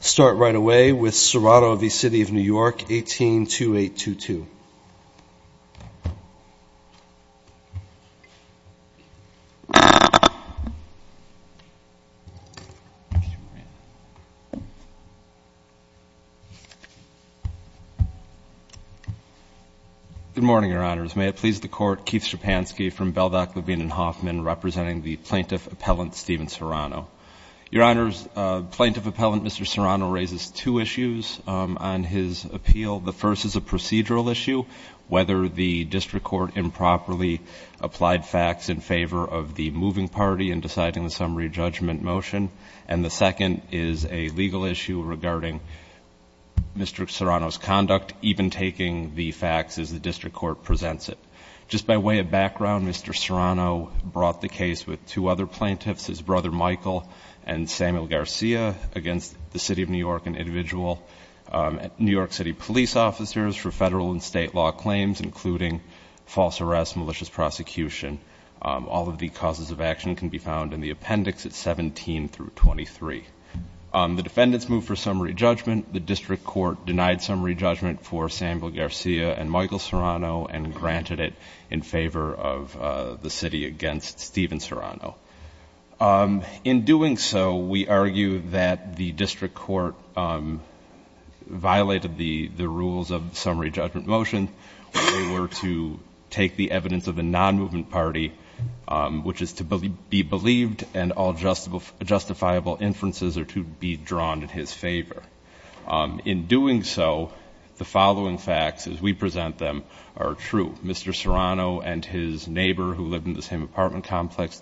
Start right away with Serrano v. City of New York, 182822. Good morning, Your Honors. May it please the Court, Keith Schepansky from Beldock, Levine & Hoffman, representing the Plaintiff Appellant Stephen Serrano. Your Honors, Plaintiff Appellant Mr. Serrano raises two issues on his appeal. The first is a procedural issue, whether the district court improperly applied facts in favor of the moving party in deciding the summary judgment motion. And the second is a legal issue regarding Mr. Serrano's conduct, even taking the facts as the district court presents it. Just by way of background, Mr. Serrano brought the case with two other plaintiffs, his brother Michael and Samuel Garcia, against the City of New York and individual New York City police officers for federal and state law claims, including false arrest, malicious prosecution. All of the causes of action can be found in the appendix at 17 through 23. The defendants moved for summary judgment. The district court denied summary judgment for Samuel Garcia and Michael Serrano and granted it in favor of the city against Stephen Serrano. In doing so, we argue that the district court violated the rules of the summary judgment motion. They were to take the evidence of the non-movement party, which is to be believed, and all justifiable inferences are to be drawn in his favor. In doing so, the following facts, as we present them, are true. Mr. Serrano and his neighbor, who lived in the same apartment complex,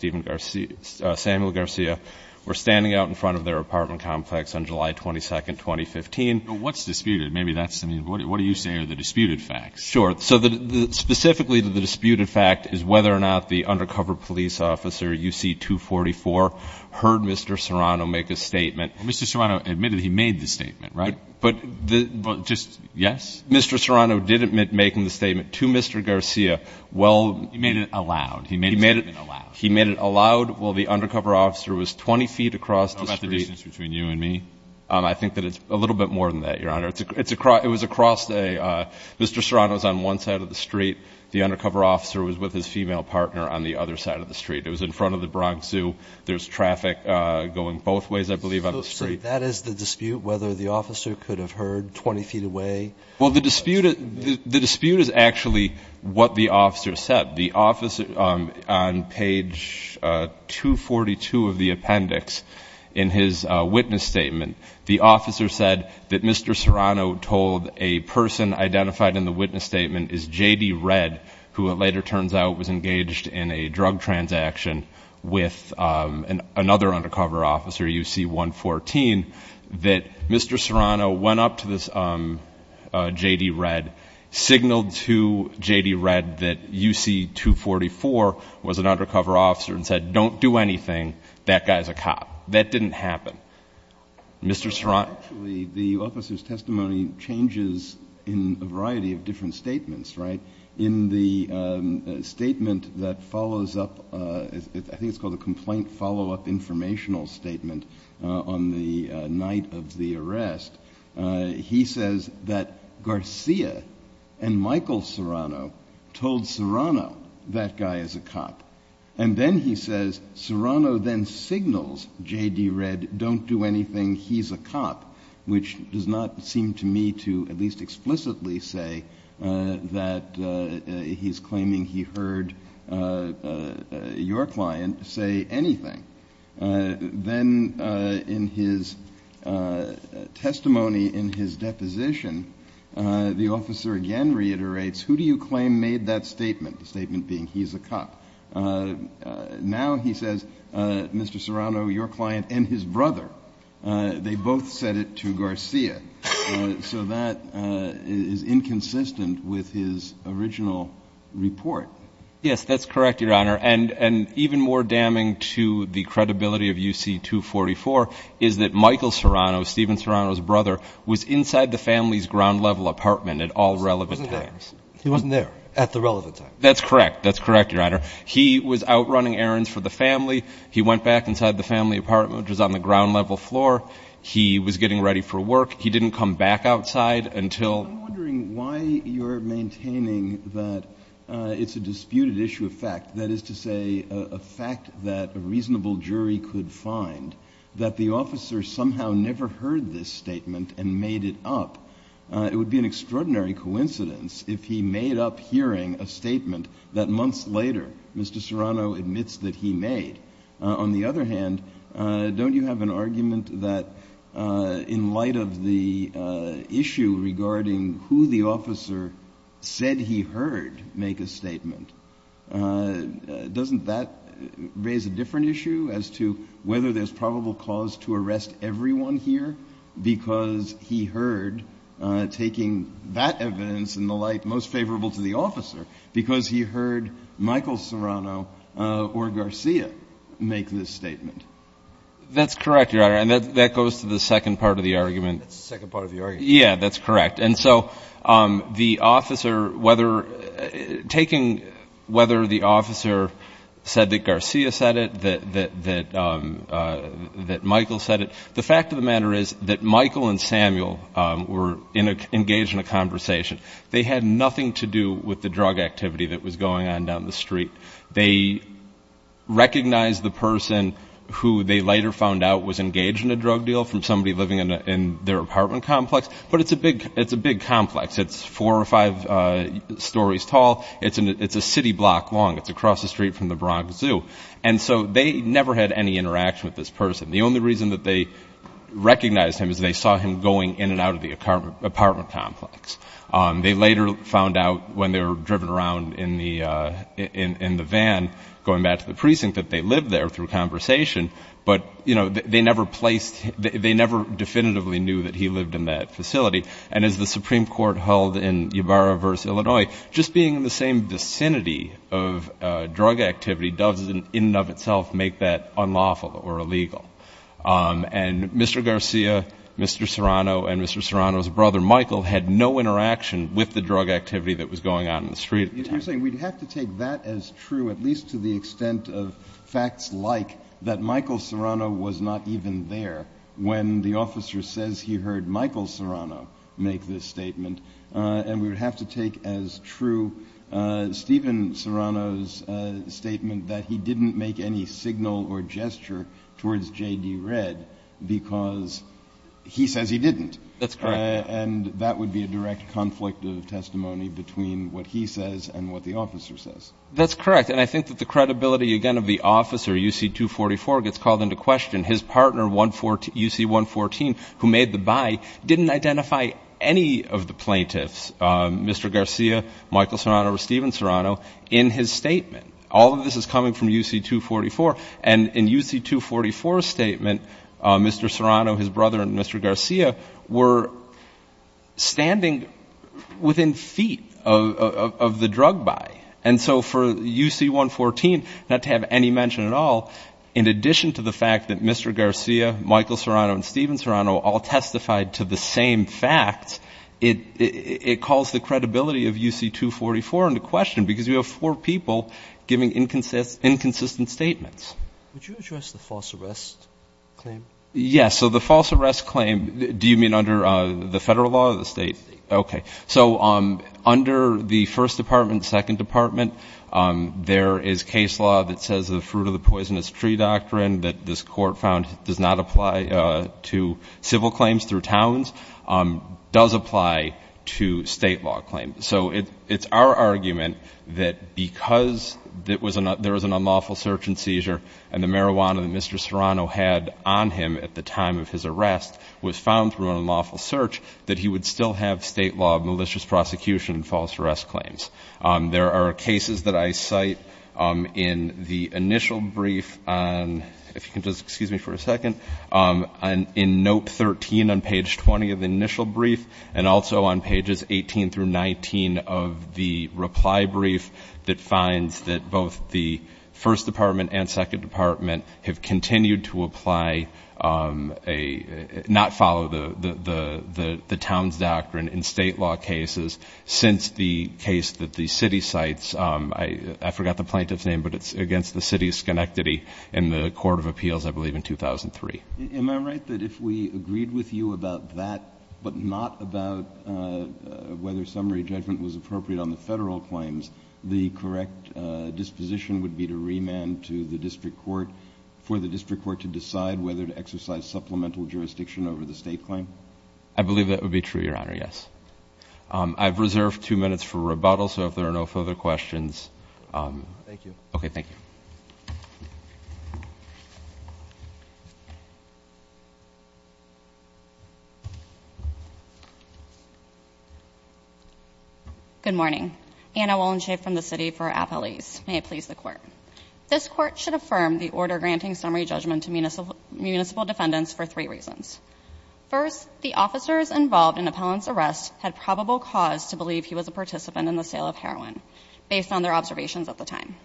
Samuel Garcia, were standing out in front of their apartment complex on July 22, 2015. But what's disputed? Maybe that's, I mean, what are you saying are the disputed facts? Sure. So specifically, the disputed fact is whether or not the undercover police officer, UC-244, heard Mr. Serrano make a statement. Mr. Serrano admitted he made the statement, right? But just yes? Mr. Serrano did admit making the statement to Mr. Garcia. He made it allowed. He made it allowed. He made it allowed while the undercover officer was 20 feet across the street. How about the distance between you and me? I think that it's a little bit more than that, Your Honor. It was across the street. Mr. Serrano was on one side of the street. The undercover officer was with his female partner on the other side of the street. It was in front of the Bronx Zoo. There's traffic going both ways, I believe, on the street. So that is the dispute, whether the officer could have heard 20 feet away? Well, the dispute is actually what the officer said. The officer on page 242 of the appendix in his witness statement, the officer said that Mr. Serrano told a person identified in the witness statement as J.D. Redd, who it later turns out was engaged in a drug transaction with another undercover officer, UC-114, that Mr. Serrano went up to this J.D. Redd, signaled to J.D. Redd that UC-244 was an undercover officer and said, don't do anything, that guy's a cop. That didn't happen. Mr. Serrano? Actually, the officer's testimony changes in a variety of different statements, right? In the statement that follows up, I think it's called a complaint follow-up informational statement, on the night of the arrest, he says that Garcia and Michael Serrano told Serrano that guy is a cop. And then he says Serrano then signals J.D. Redd, don't do anything, he's a cop, which does not seem to me to at least explicitly say that he's claiming he heard your client say anything. Then in his testimony in his deposition, the officer again reiterates, who do you claim made that statement, the statement being he's a cop? Now he says, Mr. Serrano, your client, and his brother, they both said it to Garcia. So that is inconsistent with his original report. Yes, that's correct, Your Honor. And even more damning to the credibility of UC-244 is that Michael Serrano, Stephen Serrano's brother, was inside the family's ground-level apartment at all relevant times. He wasn't there at the relevant time. That's correct. That's correct, Your Honor. He was out running errands for the family. He went back inside the family apartment, which was on the ground-level floor. He was getting ready for work. He didn't come back outside until ---- I'm wondering why you're maintaining that it's a disputed issue of fact, that is to say a fact that a reasonable jury could find, that the officer somehow never heard this statement and made it up. It would be an extraordinary coincidence if he made up hearing a statement that months later Mr. Serrano admits that he made. On the other hand, don't you have an argument that in light of the issue regarding who the officer said he heard make a statement, doesn't that raise a different issue as to whether there's probable cause to arrest everyone here because he heard taking that evidence and the like most favorable to the officer because he heard Michael Serrano or Garcia make this statement? That's correct, Your Honor, and that goes to the second part of the argument. That's the second part of the argument. Yeah, that's correct. And so the officer, whether taking whether the officer said that Garcia said it, that Michael said it, the fact of the matter is that Michael and Samuel were engaged in a conversation. They had nothing to do with the drug activity that was going on down the street. They recognized the person who they later found out was engaged in a drug deal from somebody living in their apartment complex, but it's a big complex. It's four or five stories tall. It's a city block long. It's across the street from the Bronx Zoo. And so they never had any interaction with this person. The only reason that they recognized him is they saw him going in and out of the apartment complex. They later found out when they were driven around in the van going back to the precinct that they lived there through conversation, but, you know, they never placed they never definitively knew that he lived in that facility. And as the Supreme Court held in Ybarra versus Illinois, just being in the same vicinity of drug activity doesn't in and of itself make that unlawful or illegal. And Mr. Garcia, Mr. Serrano, and Mr. Serrano's brother, Michael, had no interaction with the drug activity that was going on in the street. You're saying we'd have to take that as true, at least to the extent of facts like that Michael Serrano was not even there when the officer says he heard Michael Serrano make this statement. And we would have to take as true Stephen Serrano's statement that he didn't make any signal or gesture towards J.D. Red because he says he didn't. That's correct. And that would be a direct conflict of testimony between what he says and what the officer says. That's correct. And I think that the credibility, again, of the officer, UC-244, gets called into question. His partner, UC-114, who made the buy, didn't identify any of the plaintiffs, Mr. Garcia, Michael Serrano, or Stephen Serrano, in his statement. All of this is coming from UC-244. And in UC-244's statement, Mr. Serrano, his brother, and Mr. Garcia were standing within feet of the drug buy. And so for UC-114 not to have any mention at all, in addition to the fact that Mr. Garcia, Michael Serrano, and Stephen Serrano all testified to the same facts, it calls the credibility of UC-244 into question because we have four people giving inconsistent statements. Would you address the false arrest claim? Yes. So the false arrest claim, do you mean under the federal law or the state? State. Okay. So under the first department, second department, there is case law that says the fruit of the poisonous tree doctrine that this court found does not apply to civil claims through towns, does apply to state law claims. So it's our argument that because there was an unlawful search and seizure and the marijuana that Mr. Serrano had on him at the time of his arrest was found through an unlawful search, that he would still have state law malicious prosecution and false arrest claims. There are cases that I cite in the initial brief on, if you can just excuse me for a second, in note 13 on page 20 of the initial brief and also on pages 18 through 19 of the reply brief that finds that both the first department and second department have continued to apply, not follow the towns doctrine in state law cases since the case that the city cites, I forgot the plaintiff's name, but it's against the city's schenectady in the court of appeals, I believe, in 2003. Am I right that if we agreed with you about that but not about whether summary judgment was appropriate on the federal claims, the correct disposition would be to remand to the district court for the district court to decide whether to exercise supplemental jurisdiction over the state claim? I believe that would be true, Your Honor, yes. I've reserved two minutes for rebuttal, so if there are no further questions. Thank you. Okay, thank you. Good morning. Anna Wollenche from the city for appellees. May it please the court. This court should affirm the order granting summary judgment to municipal defendants for three reasons. First, the officers involved in Appellant's arrest had probable cause to believe he was a participant in the sale of heroin, based on their observations at the time.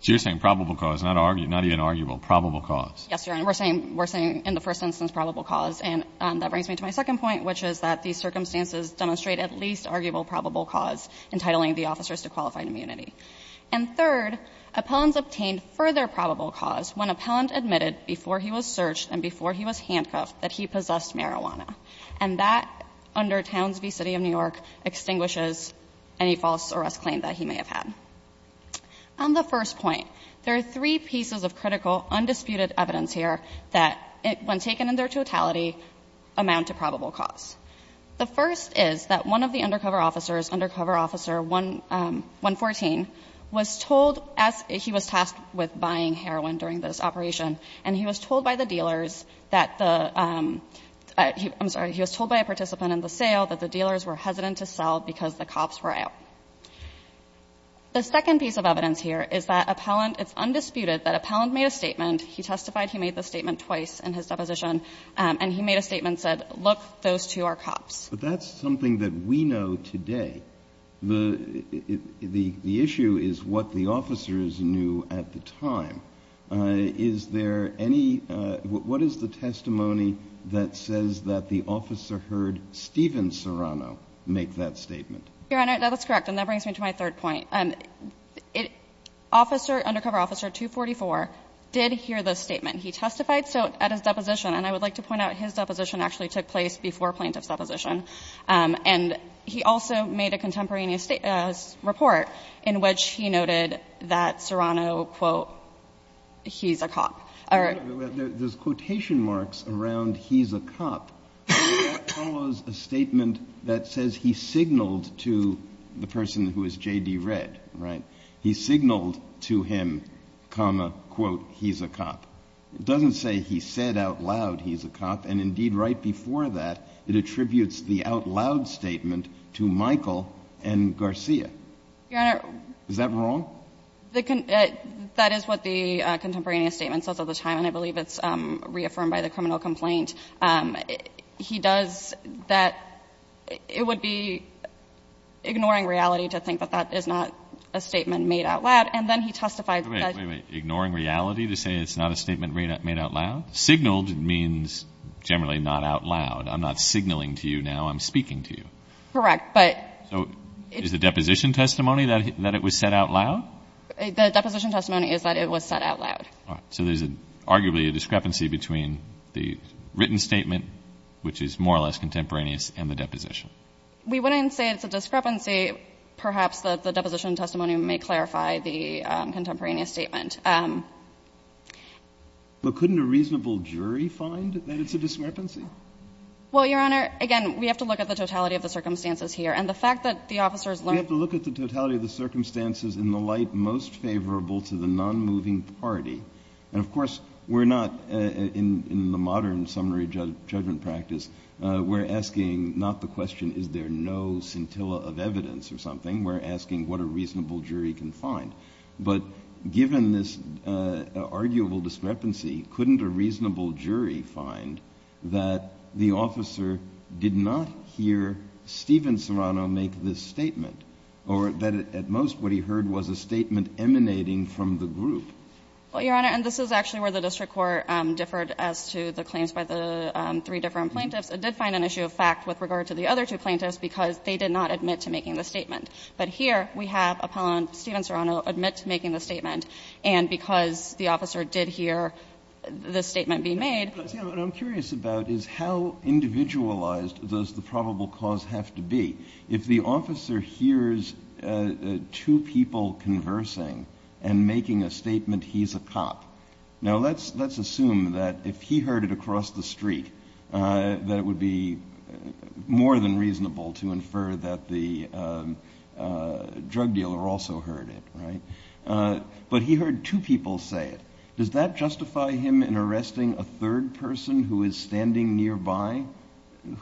So you're saying probable cause, not even arguable, probable cause. Yes, Your Honor. We're saying in the first instance probable cause, and that brings me to my second point, which is that these circumstances demonstrate at least arguable probable cause, entitling the officers to qualified immunity. And third, Appellants obtained further probable cause when Appellant admitted before he was searched and before he was handcuffed that he possessed marijuana. And that, under Townsville City of New York, extinguishes any false arrest claim that he may have had. On the first point, there are three pieces of critical undisputed evidence here that, when taken in their totality, amount to probable cause. The first is that one of the undercover officers, Undercover Officer 114, was told as he was tasked with buying heroin during this operation, and he was told by the dealers that the, I'm sorry, he was told by a participant in the sale that the dealers were hesitant to sell because the cops were out. The second piece of evidence here is that Appellant, it's undisputed that Appellant made a statement, he testified he made the statement twice in his deposition, and he made a statement that said, look, those two are cops. But that's something that we know today. The issue is what the officers knew at the time. Is there any, what is the testimony that says that the officer heard Stephen Serrano make that statement? Your Honor, that is correct, and that brings me to my third point. Officer, Undercover Officer 244, did hear the statement. He testified at his deposition, and I would like to point out his deposition actually took place before Plaintiff's deposition. And he also made a contemporaneous report in which he noted that Serrano, quote, he's a cop. There's quotation marks around he's a cop. That follows a statement that says he signaled to the person who is J.D. Redd, right? He signaled to him, quote, he's a cop. It doesn't say he said out loud he's a cop. And indeed, right before that, it attributes the out loud statement to Michael and Garcia. Your Honor. Is that wrong? That is what the contemporaneous statement says all the time, and I believe it's reaffirmed by the criminal complaint. He does that. It would be ignoring reality to think that that is not a statement made out loud. And then he testified that. Wait, wait, wait. Ignoring reality to say it's not a statement made out loud? Signaled means generally not out loud. I'm not signaling to you now. I'm speaking to you. Correct, but. So is the deposition testimony that it was said out loud? The deposition testimony is that it was said out loud. So there's arguably a discrepancy between the written statement, which is more or less contemporaneous, and the deposition. We wouldn't say it's a discrepancy. Perhaps the deposition testimony may clarify the contemporaneous statement. But couldn't a reasonable jury find that it's a discrepancy? Well, Your Honor, again, we have to look at the totality of the circumstances here, and the fact that the officers learned. We have to look at the totality of the circumstances in the light most favorable to the nonmoving party. And, of course, we're not in the modern summary judgment practice. We're asking not the question is there no scintilla of evidence or something. We're asking what a reasonable jury can find. But given this arguable discrepancy, couldn't a reasonable jury find that the officer did not hear Stephen Serrano make this statement, or that at most what he heard was a statement emanating from the group? Well, Your Honor, and this is actually where the district court differed as to the claims by the three different plaintiffs. It did find an issue of fact with regard to the other two plaintiffs because they did not admit to making the statement. But here we have appellant Stephen Serrano admit to making the statement, and because the officer did hear the statement being made. What I'm curious about is how individualized does the probable cause have to be? If the officer hears two people conversing and making a statement he's a cop, now let's assume that if he heard it across the street that it would be more than reasonable to infer that the drug dealer also heard it, right? But he heard two people say it. Does that justify him in arresting a third person who is standing nearby,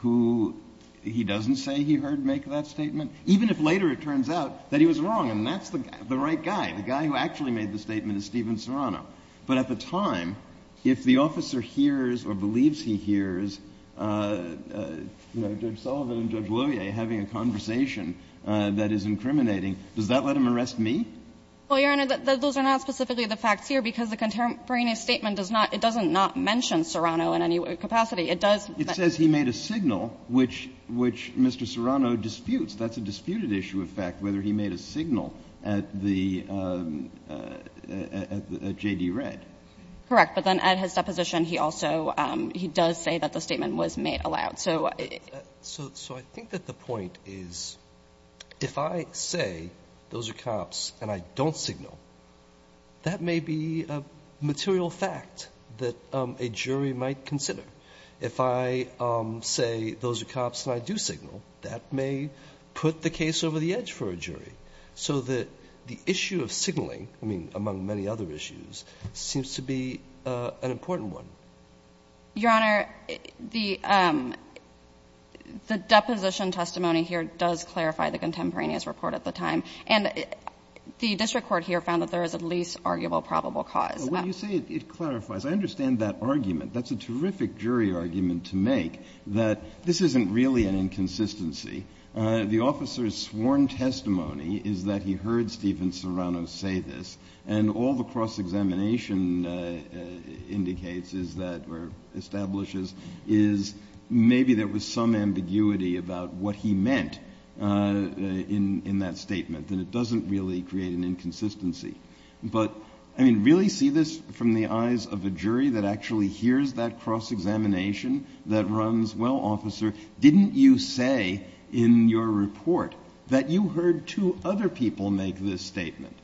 who he doesn't say he heard make that statement? Even if later it turns out that he was wrong and that's the right guy, the guy who actually made the statement is Stephen Serrano. But at the time, if the officer hears or believes he hears Judge Sullivan and Judge Loyer having a conversation that is incriminating, does that let him arrest me? Well, Your Honor, those are not specifically the facts here, because the contemporaneous statement does not, it doesn't not mention Serrano in any capacity. It does, but. It says he made a signal, which Mr. Serrano disputes. That's a disputed issue of fact, whether he made a signal at the, at J.D. Redd. Correct. But then at his deposition, he also, he does say that the statement was made aloud. So I think that the point is, if I say those are cops and I don't signal, that may be a material fact that a jury might consider. If I say those are cops and I do signal, that may put the case over the edge for a jury. So the issue of signaling, I mean, among many other issues, seems to be an important one. Your Honor, the deposition testimony here does clarify the contemporaneous report at the time. And the district court here found that there is a least arguable probable cause. Well, when you say it clarifies, I understand that argument. That's a terrific jury argument to make, that this isn't really an inconsistency. The officer's sworn testimony is that he heard Stephen Serrano say this. And all the cross-examination indicates is that, or establishes, is maybe there was some ambiguity about what he meant in that statement. And it doesn't really create an inconsistency. But, I mean, really see this from the eyes of a jury that actually hears that cross-examination that runs, well, officer, didn't you say in your report that you heard two other people make this statement?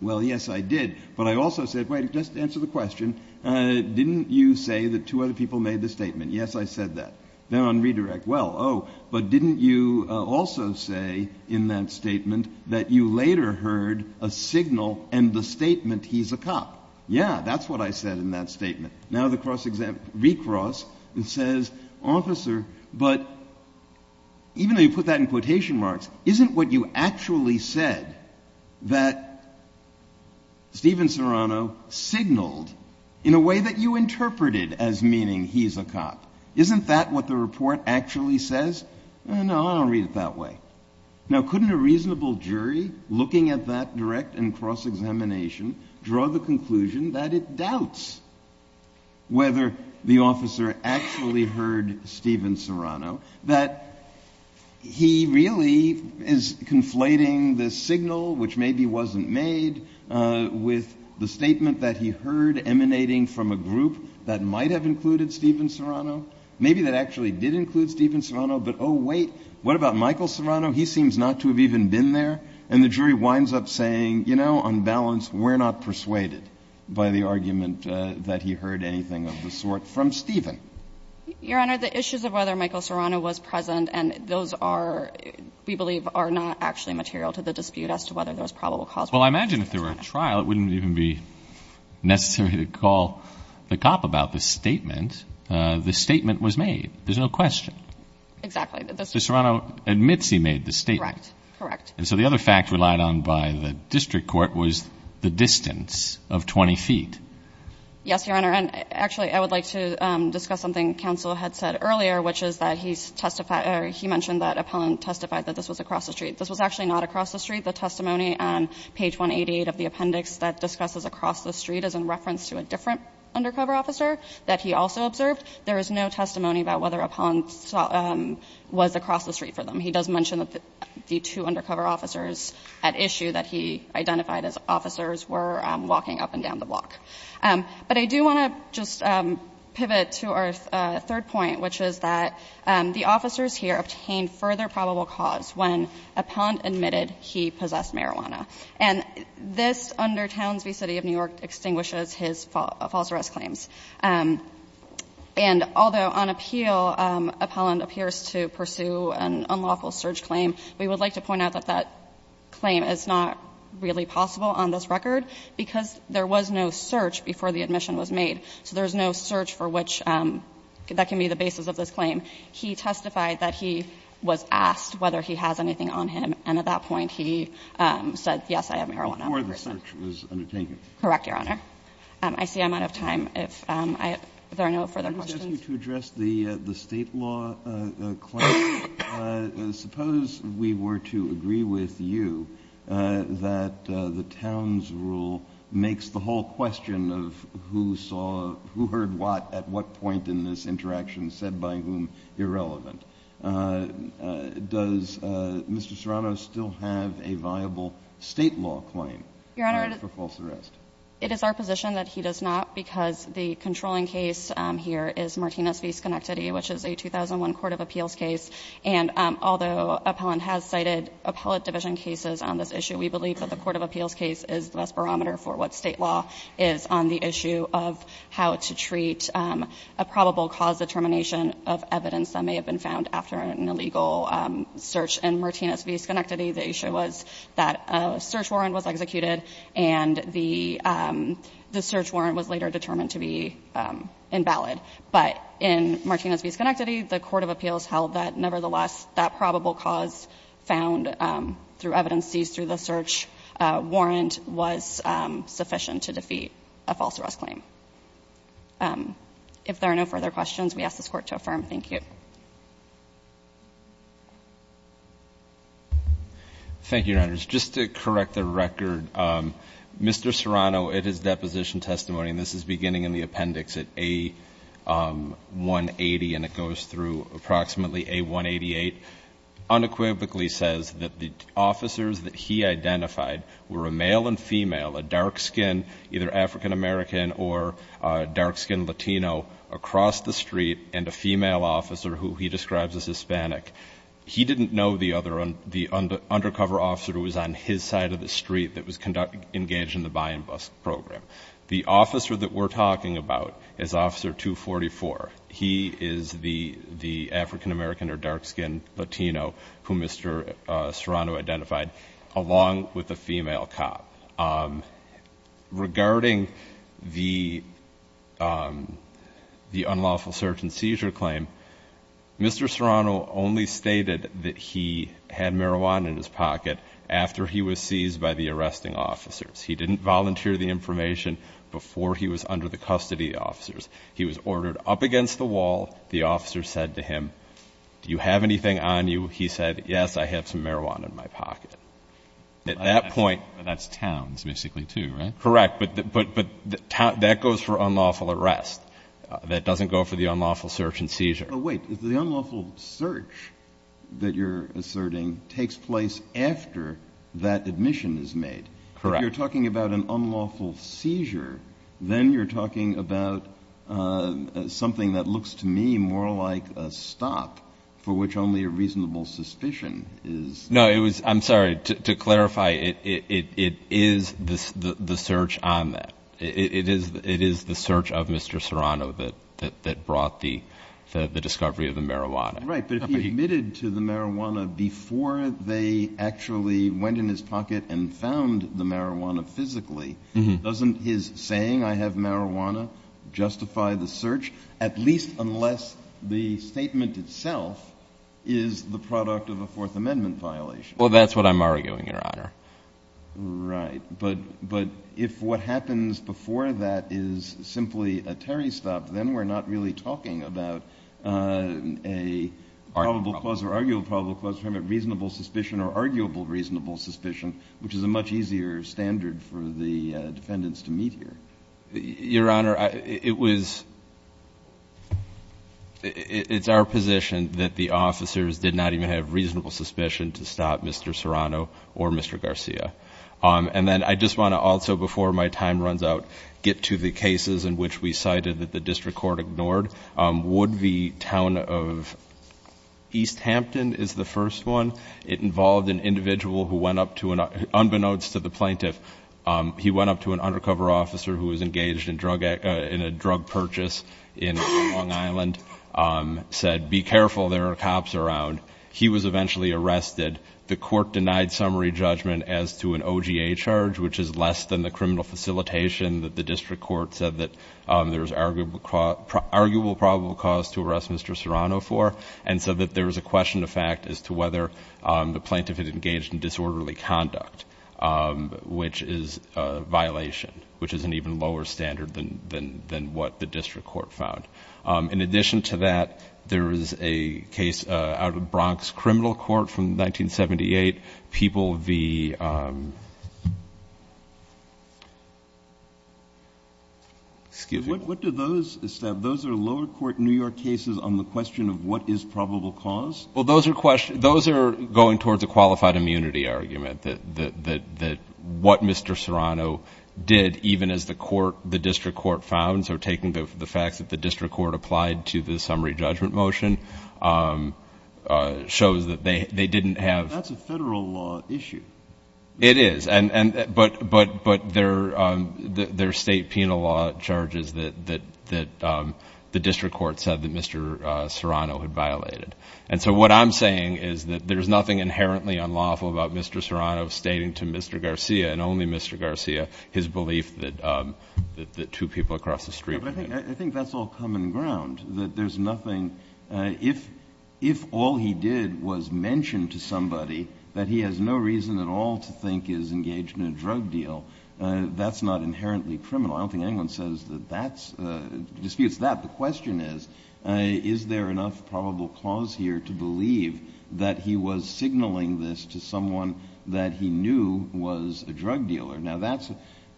Well, yes, I did. But I also said, wait, just answer the question, didn't you say that two other people made the statement? Yes, I said that. Then on redirect, well, oh, but didn't you also say in that statement that you later heard a signal and the statement, he's a cop? Yeah, that's what I said in that statement. Now the cross-examination recrosss and says, officer, but even though you put that in quotation marks, isn't what you actually said that Stephen Serrano signaled in a way that you interpreted as meaning he's a cop? Isn't that what the report actually says? No, I don't read it that way. Now, couldn't a reasonable jury looking at that direct and cross-examination draw the conclusion that it doubts whether the officer actually heard Stephen Serrano, that he really is conflating the signal, which maybe wasn't made, with the statement that he heard emanating from a group that might have included Stephen Serrano? Maybe that actually did include Stephen Serrano. But, oh, wait, what about Michael Serrano? He seems not to have even been there. And the jury winds up saying, you know, on balance, we're not persuaded by the argument that he heard anything of the sort from Stephen. Your Honor, the issues of whether Michael Serrano was present and those are, we believe, are not actually material to the dispute as to whether there was probable cause. Well, I imagine if there were a trial, it wouldn't even be necessary to call the cop about the statement. The statement was made. There's no question. Exactly. Serrano admits he made the statement. Correct, correct. And so the other fact relied on by the district court was the distance of 20 feet. Yes, Your Honor. And actually, I would like to discuss something counsel had said earlier, which is that he's testified or he mentioned that Appellant testified that this was across the street. This was actually not across the street. The testimony on page 188 of the appendix that discusses across the street is in reference to a different undercover officer that he also observed. There is no testimony about whether Appellant was across the street for them. He does mention that the two undercover officers at issue that he identified as officers were walking up and down the block. But I do want to just pivot to our third point, which is that the officers here obtained further probable cause when Appellant admitted he possessed marijuana. And this under Townsville City of New York extinguishes his false arrest claims. And although on appeal Appellant appears to pursue an unlawful search claim, we would like to point out that that claim is not really possible on this record because there was no search before the admission was made. So there's no search for which that can be the basis of this claim. He testified that he was asked whether he has anything on him, and at that point he said, yes, I have marijuana. Before the search was undertaken. Correct, Your Honor. I see I'm out of time. If there are no further questions. I want to ask you to address the State law claim. Suppose we were to agree with you that the Towns rule makes the whole question of who saw, who heard what, at what point in this interaction, said by whom irrelevant. Does Mr. Serrano still have a viable State law claim for false arrest? It is our position that he does not because the controlling case here is Martinez v. Schenectady, which is a 2001 court of appeals case. And although Appellant has cited appellate division cases on this issue, we believe that the court of appeals case is the best barometer for what State law is on the issue of how to treat a probable cause determination of evidence that may have been found after an illegal search in Martinez v. Schenectady. The issue was that a search warrant was executed and the search warrant was later determined to be invalid. But in Martinez v. Schenectady, the court of appeals held that, nevertheless, that probable cause found through evidences through the search warrant was sufficient to defeat a false arrest claim. If there are no further questions, we ask this Court to affirm. Thank you. Thank you, Your Honors. Just to correct the record, Mr. Serrano, at his deposition testimony, and this is beginning in the appendix at A180 and it goes through approximately A188, unequivocally says that the officers that he identified were a male and female, a dark-skinned, either African-American or dark-skinned Latino, across the street and a female officer who he describes as Hispanic. He didn't know the undercover officer who was on his side of the street that was engaged in the buy-and-bust program. The officer that we're talking about is Officer 244. He is the African-American or dark-skinned Latino who Mr. Serrano identified, along with the female cop. Regarding the unlawful search and seizure claim, Mr. Serrano only stated that he had marijuana in his pocket after he was seized by the arresting officers. He didn't volunteer the information before he was under the custody of officers. He was ordered up against the wall. The officer said to him, do you have anything on you? He said, yes, I have some marijuana in my pocket. But that's towns, basically, too, right? Correct, but that goes for unlawful arrest. That doesn't go for the unlawful search and seizure. But wait, the unlawful search that you're asserting takes place after that admission is made. Correct. But you're talking about an unlawful seizure. Then you're talking about something that looks to me more like a stop, for which only a reasonable suspicion is. No, I'm sorry. To clarify, it is the search on that. It is the search of Mr. Serrano that brought the discovery of the marijuana. Right, but if he admitted to the marijuana before they actually went in his pocket and found the marijuana physically, doesn't his saying I have marijuana justify the search, at least unless the statement itself is the product of a Fourth Amendment violation? Well, that's what I'm arguing, Your Honor. Right. But if what happens before that is simply a Terry stop, then we're not really talking about a probable clause or arguable probable clause. We're talking about reasonable suspicion or arguable reasonable suspicion, which is a much easier standard for the defendants to meet here. Your Honor, it's our position that the officers did not even have reasonable suspicion to stop Mr. Serrano or Mr. Garcia. And then I just want to also, before my time runs out, get to the cases in which we cited that the district court ignored. Would the town of East Hampton is the first one. It involved an individual who went up to, unbeknownst to the plaintiff, he went up to an undercover officer who was engaged in a drug purchase in Long Island, said be careful, there are cops around. He was eventually arrested. The court denied summary judgment as to an OGA charge, which is less than the criminal facilitation that the district court said that there's arguable probable cause to arrest Mr. Serrano for, and so that there was a question of fact as to whether the plaintiff had engaged in disorderly conduct, which is a violation, which is an even lower standard than what the district court found. In addition to that, there is a case out of Bronx Criminal Court from 1978. Excuse me. What do those, those are lower court New York cases on the question of what is probable cause? Well, those are going towards a qualified immunity argument that what Mr. Serrano did, even as the district court found, so taking the facts that the district court applied to the summary judgment motion, shows that they didn't have. That's a federal law issue. It is, but there are state penal law charges that the district court said that Mr. Serrano had violated. And so what I'm saying is that there's nothing inherently unlawful about Mr. Serrano stating to Mr. Garcia and only Mr. Garcia his belief that the two people across the street were there. I think that's all common ground, that there's nothing. If all he did was mention to somebody that he has no reason at all to think he's engaged in a drug deal, that's not inherently criminal. I don't think anyone says that that's, disputes that. The question is, is there enough probable cause here to believe that he was signaling this to someone that he knew was a drug dealer? Now that's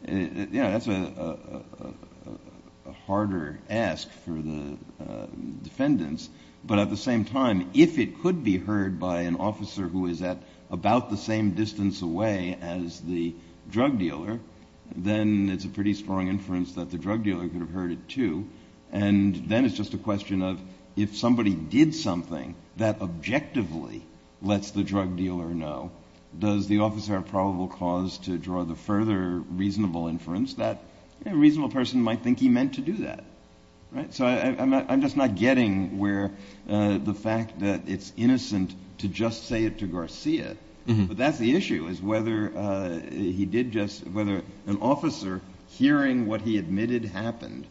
a harder ask for the defendants, but at the same time, if it could be heard by an officer who is at about the same distance away as the drug dealer, then it's a pretty strong inference that the drug dealer could have heard it too. And then it's just a question of if somebody did something that objectively lets the drug dealer know, does the officer have probable cause to draw the further reasonable inference that a reasonable person might think he meant to do that? So I'm just not getting where the fact that it's innocent to just say it to Garcia, but that's the issue is whether he did just, whether an officer hearing what he admitted happened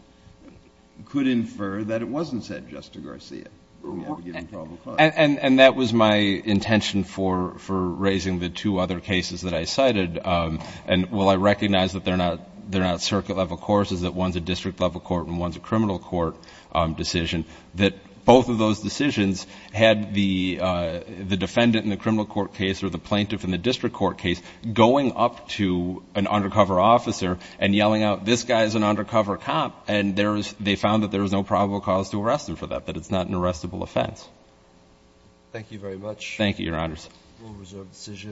could infer that it wasn't said just to Garcia. And that was my intention for raising the two other cases that I cited. And while I recognize that they're not circuit level courses, that one's a district level court and one's a criminal court decision, that both of those decisions had the defendant in the criminal court case or the plaintiff in the district court case going up to an undercover officer and yelling out, this guy's an undercover cop, and they found that there was no probable cause to arrest him for that, that it's not an arrestable offense. Thank you very much. Thank you, Your Honors.